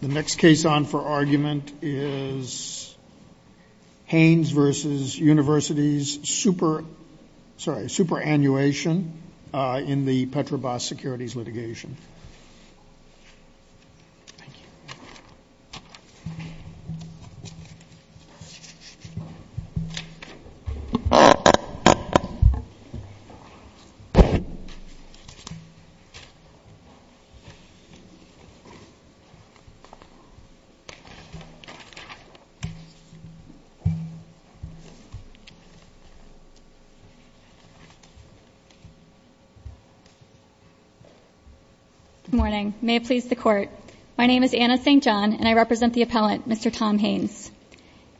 The next case on for argument is Haynes v. University's superannuation in the Petrobas Securities litigation. Good morning. May it please the Court. My name is Anna St. John, and I represent the appellant, Mr. Tom Haynes.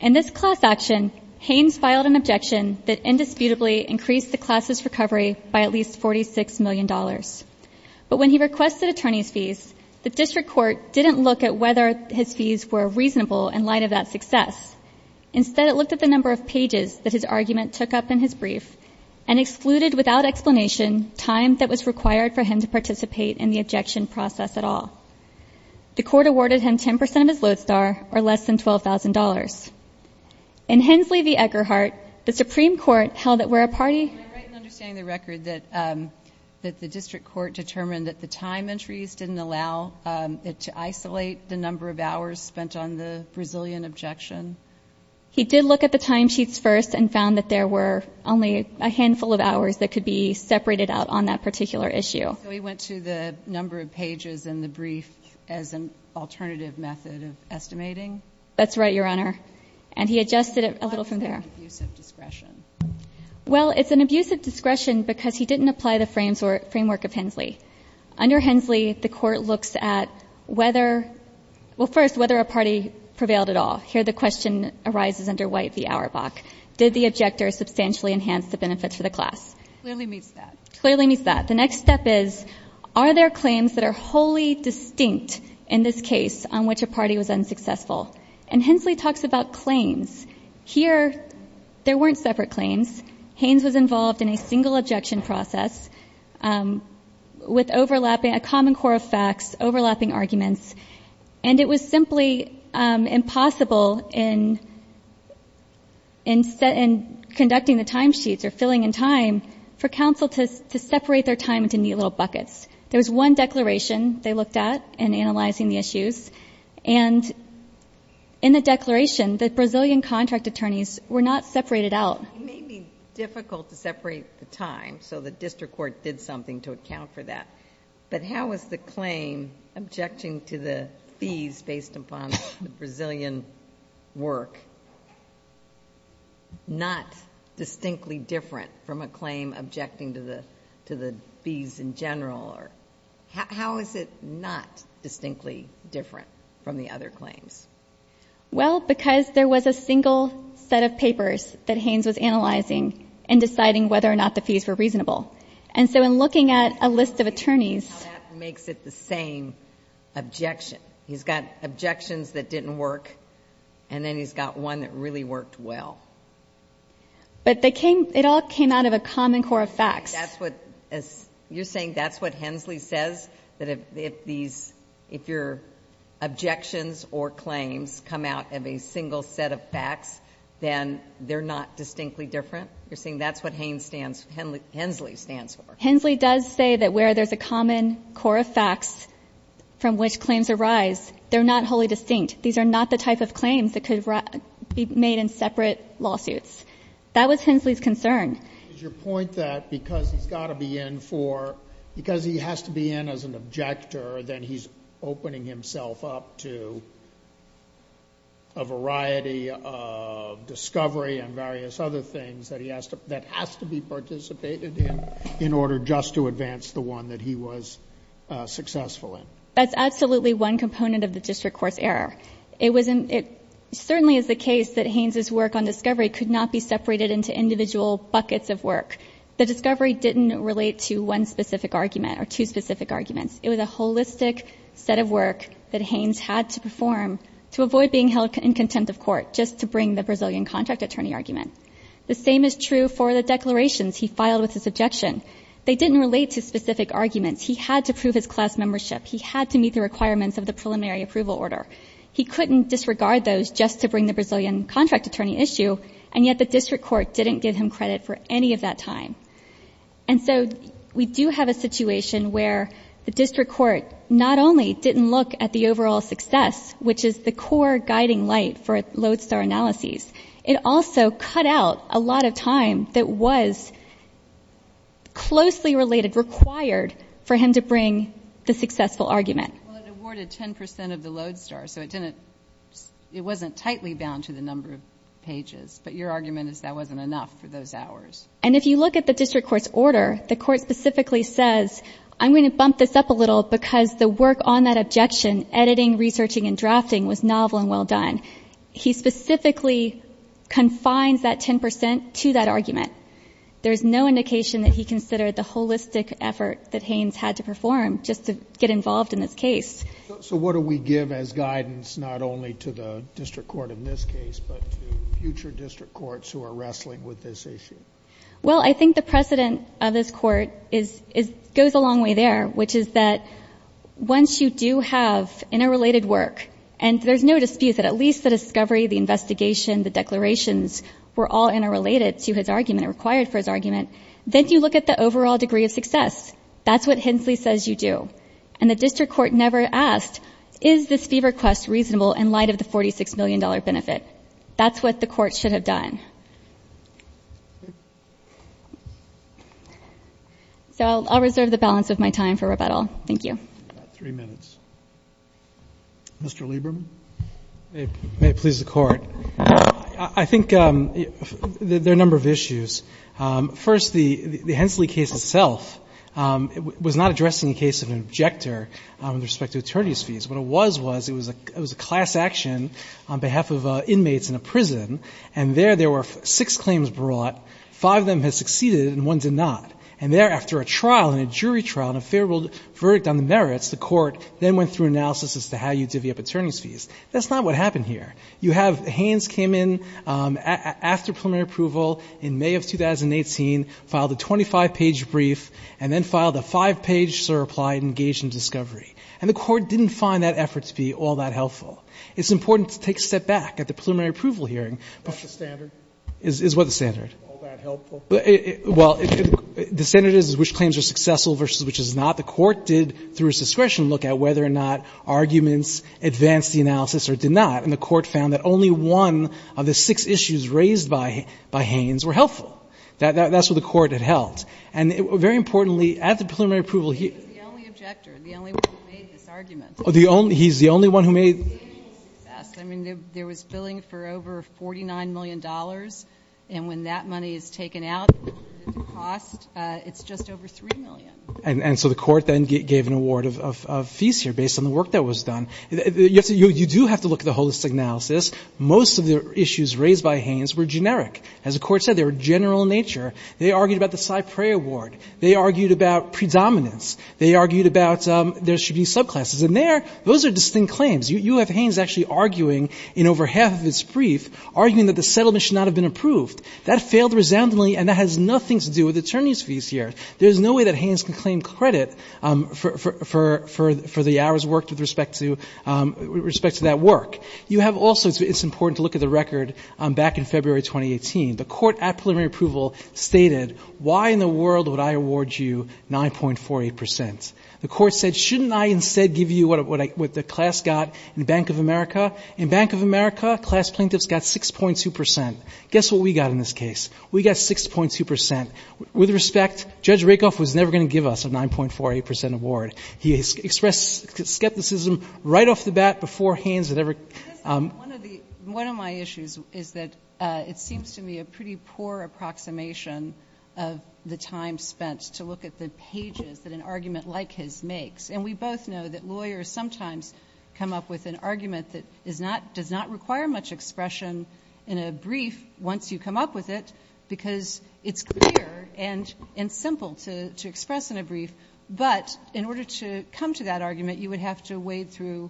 In this class action, Haynes filed an objection that indisputably increased the class's recovery by at least $46 million. But when he requested attorney's fees, the district court didn't look at whether his fees were reasonable in light of that success. Instead, it looked at the number of pages that his argument took up in his brief and excluded, without explanation, time that was required for him to participate in the objection process at all. The court awarded him 10 percent of his lodestar or less than $12,000. In Hensley v. Egerhardt, the Supreme Court held that where a party He did look at the timesheets first and found that there were only a handful of hours that could be separated out on that particular issue. So he went to the number of pages in the brief as an alternative method of estimating? That's right, Your Honor. And he adjusted it a little from there. Why was that an abusive discretion? Well, it's an abusive discretion because he didn't apply the framework of Hensley. Under Hensley, the court looks at whether — well, first, whether a party prevailed at all. Here the question arises under White v. Auerbach. Did the objector substantially enhance the benefits for the class? Clearly meets that. The next step is, are there claims that are wholly distinct in this case on which a party was unsuccessful? And Hensley talks about claims. Here there weren't separate claims. Haynes was involved in a single objection process with overlapping — a common core of facts, overlapping arguments. And it was simply impossible in conducting the timesheets or filling in time for counsel to separate their time into neat little buckets. There was one declaration they looked at in analyzing the issues. And in the declaration, the Brazilian contract attorneys were not separated out. It may be difficult to separate the time, so the district court did something to account for that. But how is the claim objecting to the fees based upon the Brazilian work not distinctly different from a claim objecting to the fees in general? Or how is it not distinctly different from the other claims? Well, because there was a single set of papers that Haynes was analyzing in deciding whether or not the fees were reasonable. And so in looking at a list of attorneys — That's how that makes it the same objection. He's got objections that didn't work, and then he's got one that really worked well. But they came — it all came out of a common core of facts. That's what — you're saying that's what Hensley says? That if these — if your objections or claims come out of a single set of facts, then they're not distinctly different? You're saying that's what Haines stands — Hensley stands for? Hensley does say that where there's a common core of facts from which claims arise, they're not wholly distinct. These are not the type of claims that could be made in separate lawsuits. That was Hensley's concern. Is your point that because he's got to be in for — because he has to be in as an objector, then he's opening himself up to a variety of discovery and various other things that he has to — that has to be participated in in order just to advance the one that he was successful in? That's absolutely one component of the district court's error. It certainly is the case that Haines's work on discovery could not be separated into individual buckets of work. The discovery didn't relate to one specific argument or two specific arguments. It was a holistic set of work that Haines had to perform to avoid being held in contempt of court just to bring the Brazilian contract attorney argument. The same is true for the declarations he filed with this objection. They didn't relate to specific arguments. He had to prove his class membership. He had to meet the requirements of the preliminary approval order. He couldn't disregard those just to bring the Brazilian contract attorney issue, and yet the district court didn't give him credit for any of that time. And so we do have a situation where the district court not only didn't look at the overall success, which is the core guiding light for lodestar analyses, it also cut out a lot of time that was closely related, required, for him to bring the successful argument. Well, it awarded 10 percent of the lodestar, so it didn't — it wasn't tightly bound to the number of pages. But your argument is that wasn't enough for those hours. And if you look at the district court's order, the court specifically says, I'm going to bump this up a little because the work on that objection, editing, researching, and drafting, was novel and well done. He specifically confines that 10 percent to that argument. There is no indication that he considered the holistic effort that Haines had to perform just to get involved in this case. So what do we give as guidance not only to the district court in this case, but to future district courts who are wrestling with this issue? Well, I think the precedent of this Court is — goes a long way there, which is that once you do have interrelated work and there's no dispute that at least the discovery, the investigation, the declarations were all interrelated to his argument or required for his argument, then you look at the overall degree of success. That's what Hensley says you do. And the district court never asked, is this fee request reasonable in light of the $46 million benefit? That's what the court should have done. So I'll reserve the balance of my time for rebuttal. Thank you. Mr. Lieberman. May it please the Court. I think there are a number of issues. First, the Hensley case itself was not addressing the case of an objector with respect to attorney's fees. What it was was it was a class action on behalf of inmates in a prison, and there there were six claims brought. Five of them had succeeded and one did not. And thereafter, a trial and a jury trial and a favorable verdict on the merits, the court then went through analysis as to how you divvy up attorney's fees. That's not what happened here. You have Haines came in after preliminary approval in May of 2018, filed a 25-page brief, and then filed a five-page, sir, apply and engage in discovery. And the court didn't find that effort to be all that helpful. It's important to take a step back at the preliminary approval hearing. Is what the standard? Well, the standard is which claims are successful versus which is not. The court did, through its discretion, look at whether or not arguments advanced the analysis or did not, and the court found that only one of the six issues raised by Haines were helpful. That's what the court had held. And very importantly, at the preliminary approval hearing here. He was the only objector, the only one who made this argument. He's the only one who made. I mean, there was billing for over $49 million, and when that money is taken out, the cost, it's just over $3 million. And so the court then gave an award of fees here based on the work that was done. You do have to look at the holistic analysis. Most of the issues raised by Haines were generic. As the Court said, they were general in nature. They argued about the Cyprea award. They argued about predominance. They argued about there should be subclasses. And there, those are distinct claims. You have Haines actually arguing in over half of its brief, arguing that the settlement should not have been approved. That failed resoundingly, and that has nothing to do with attorneys' fees here. There's no way that Haines can claim credit for the hours worked with respect to that work. You have also, it's important to look at the record back in February 2018. The court at preliminary approval stated, why in the world would I award you 9.48 percent? The court said, shouldn't I instead give you what the class got in Bank of America? In Bank of America, class plaintiffs got 6.2 percent. Guess what we got in this case? We got 6.2 percent. With respect, Judge Rakoff was never going to give us a 9.48 percent award. He expressed skepticism right off the bat before Haines had ever ---- One of the, one of my issues is that it seems to me a pretty poor approximation of the time spent to look at the pages that an argument like his makes. And we both know that lawyers sometimes come up with an argument that is not, does not require much expression in a brief once you come up with it because it's clear and simple to express in a brief. But in order to come to that argument, you would have to wade through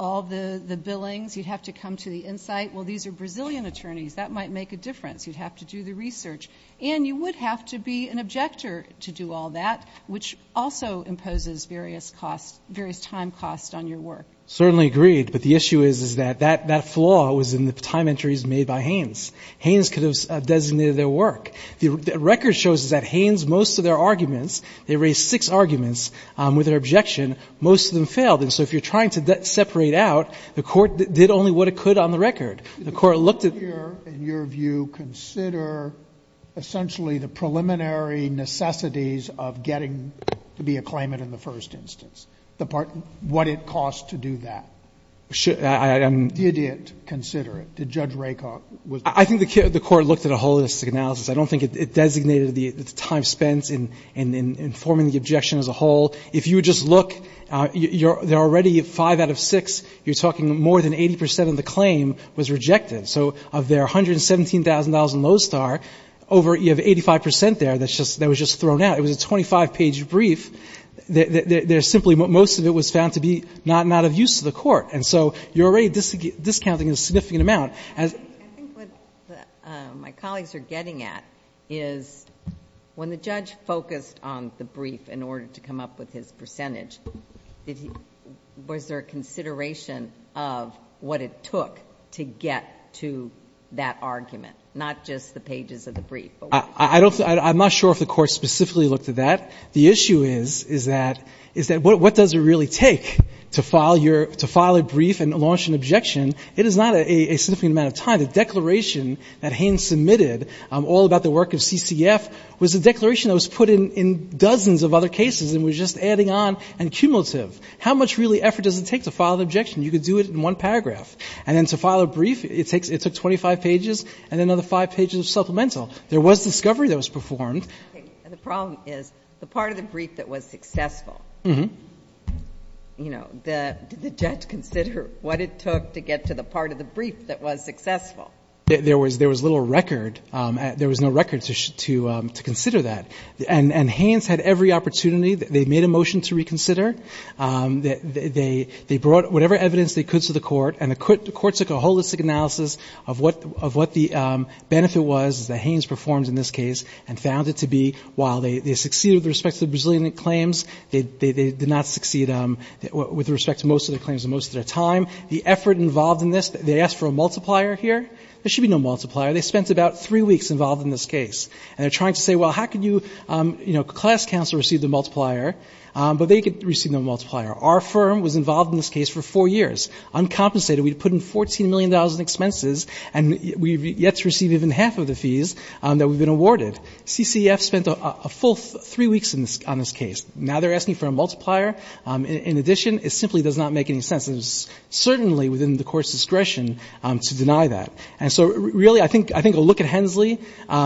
all the billings. You'd have to come to the insight, well, these are Brazilian attorneys. That might make a difference. You'd have to do the research. And you would have to be an objector to do all that, which also imposes various costs, various time costs on your work. Certainly agreed. But the issue is, is that that flaw was in the time entries made by Haines. Haines could have designated their work. The record shows that Haines, most of their arguments, they raised six arguments with their objection. Most of them failed. And so if you're trying to separate out, the Court did only what it could on the record. The Court looked at ---- Sotomayor in your view consider essentially the preliminary necessities of getting to be a claimant in the first instance. What it costs to do that. Did it consider it? Did Judge Raycock? I think the Court looked at a holistic analysis. I don't think it designated the time spent in informing the objection as a whole. If you would just look, there are already five out of six, you're talking more than 80 percent of the claim was rejected. So of their $117,000 in Lowe's Star, over 85 percent there that was just thrown It was a 25-page brief. Most of it was found to be not of use to the Court. And so you're already discounting a significant amount. I think what my colleagues are getting at is when the judge focused on the brief in order to come up with his percentage, was there a consideration of what it took to get to that argument, not just the pages of the brief? I'm not sure if the Court specifically looked at that. The issue is that what does it really take to file a brief and launch an objection? It is not a significant amount of time. The declaration that Haines submitted all about the work of CCF was a declaration that was put in dozens of other cases and was just adding on and cumulative. How much really effort does it take to file an objection? You could do it in one paragraph. And then to file a brief, it took 25 pages and another five pages of supplemental. There was discovery that was performed. The problem is the part of the brief that was successful, did the judge consider what it took to get to the part of the brief that was successful? There was little record. There was no record to consider that. And Haines had every opportunity. They made a motion to reconsider. They brought whatever evidence they could to the Court, and the Court took a holistic analysis of what the benefit was that Haines performed in this case and found it to be, while they succeeded with respect to the Brazilian claims, they did not succeed with respect to most of the claims in most of their time. The effort involved in this, they asked for a multiplier here. There should be no multiplier. They spent about three weeks involved in this case. And they're trying to say, well, how could you, you know, class counsel receive the multiplier, but they could receive no multiplier. Our firm was involved in this case for four years, uncompensated. We'd put in $14 million in expenses, and we've yet to receive even half of the fees that we've been awarded. CCEF spent a full three weeks on this case. Now they're asking for a multiplier. In addition, it simply does not make any sense. And it's certainly within the Court's discretion to deny that. And so really I think a look at Hensley,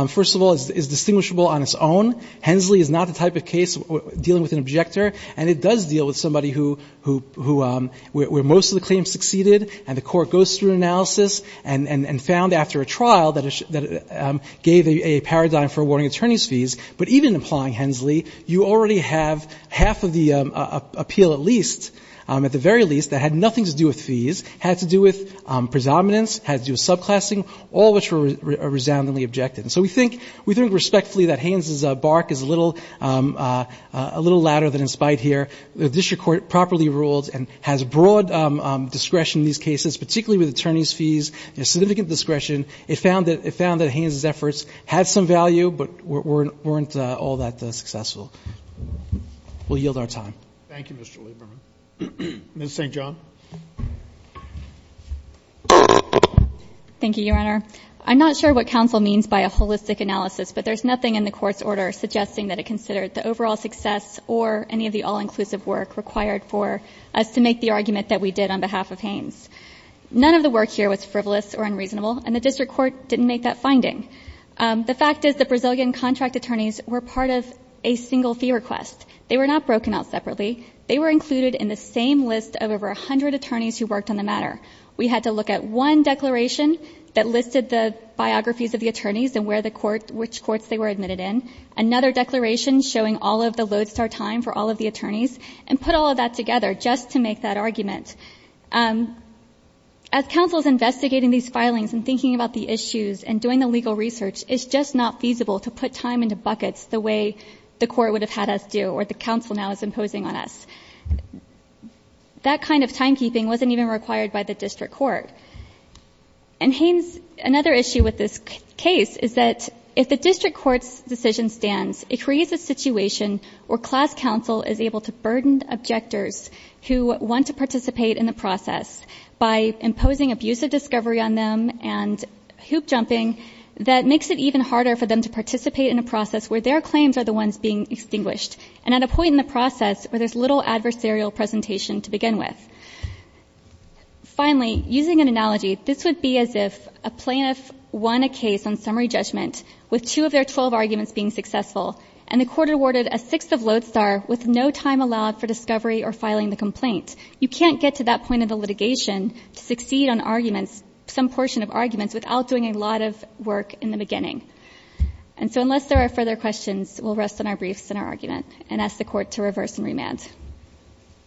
first of all, is distinguishable on its own. Hensley is not the type of case dealing with an objector, and it does deal with somebody who, where most of the claims succeeded, and the Court goes through an analysis and found after a trial that it gave a paradigm for awarding attorney's fees. But even applying Hensley, you already have half of the appeal at least, at the very least, that had nothing to do with fees, had to do with predominance, had to do with subclassing, all of which were resoundingly objective. And so we think respectfully that Haines's bark is a little louder than its bite here. The district court properly ruled and has broad discretion in these cases, particularly with attorney's fees, and significant discretion. It found that Haines's efforts had some value but weren't all that successful. We'll yield our time. Thank you, Mr. Lieberman. Ms. St. John. Thank you, Your Honor. I'm not sure what counsel means by a holistic analysis, but there's nothing in the Court's order suggesting that it considered the overall success or any of the all-inclusive work required for us to make the argument that we did on behalf of Haines. None of the work here was frivolous or unreasonable, and the district court didn't make that finding. The fact is the Brazilian contract attorneys were part of a single fee request. They were not broken out separately. They were included in the same list of over 100 attorneys who worked on the matter. We had to look at one declaration that listed the biographies of the attorneys and which courts they were admitted in, another declaration showing all of the lodestar time for all of the attorneys, and put all of that together just to make that argument. As counsel is investigating these filings and thinking about the issues and doing the legal research, it's just not feasible to put time into buckets the way the court would have had us do or the counsel now is imposing on us. That kind of timekeeping wasn't even required by the district court. In Haines, another issue with this case is that if the district court's decision stands, it creates a situation where class counsel is able to burden objectors who want to participate in the process by imposing abusive discovery on them and hoop-jumping that makes it even harder for them to participate in a process where their claims are the ones being extinguished. And at a point in the process where there's little adversarial presentation to begin with. Finally, using an analogy, this would be as if a plaintiff won a case on summary judgment with two of their 12 arguments being successful, and the court awarded a sixth of lodestar with no time allowed for discovery or filing the complaint. You can't get to that point of the litigation to succeed on arguments, some portion of arguments, without doing a lot of work in the beginning. And so unless there are further questions, we'll rest on our briefs and our argument and ask the court to reverse and remand.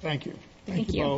Thank you. Thank you.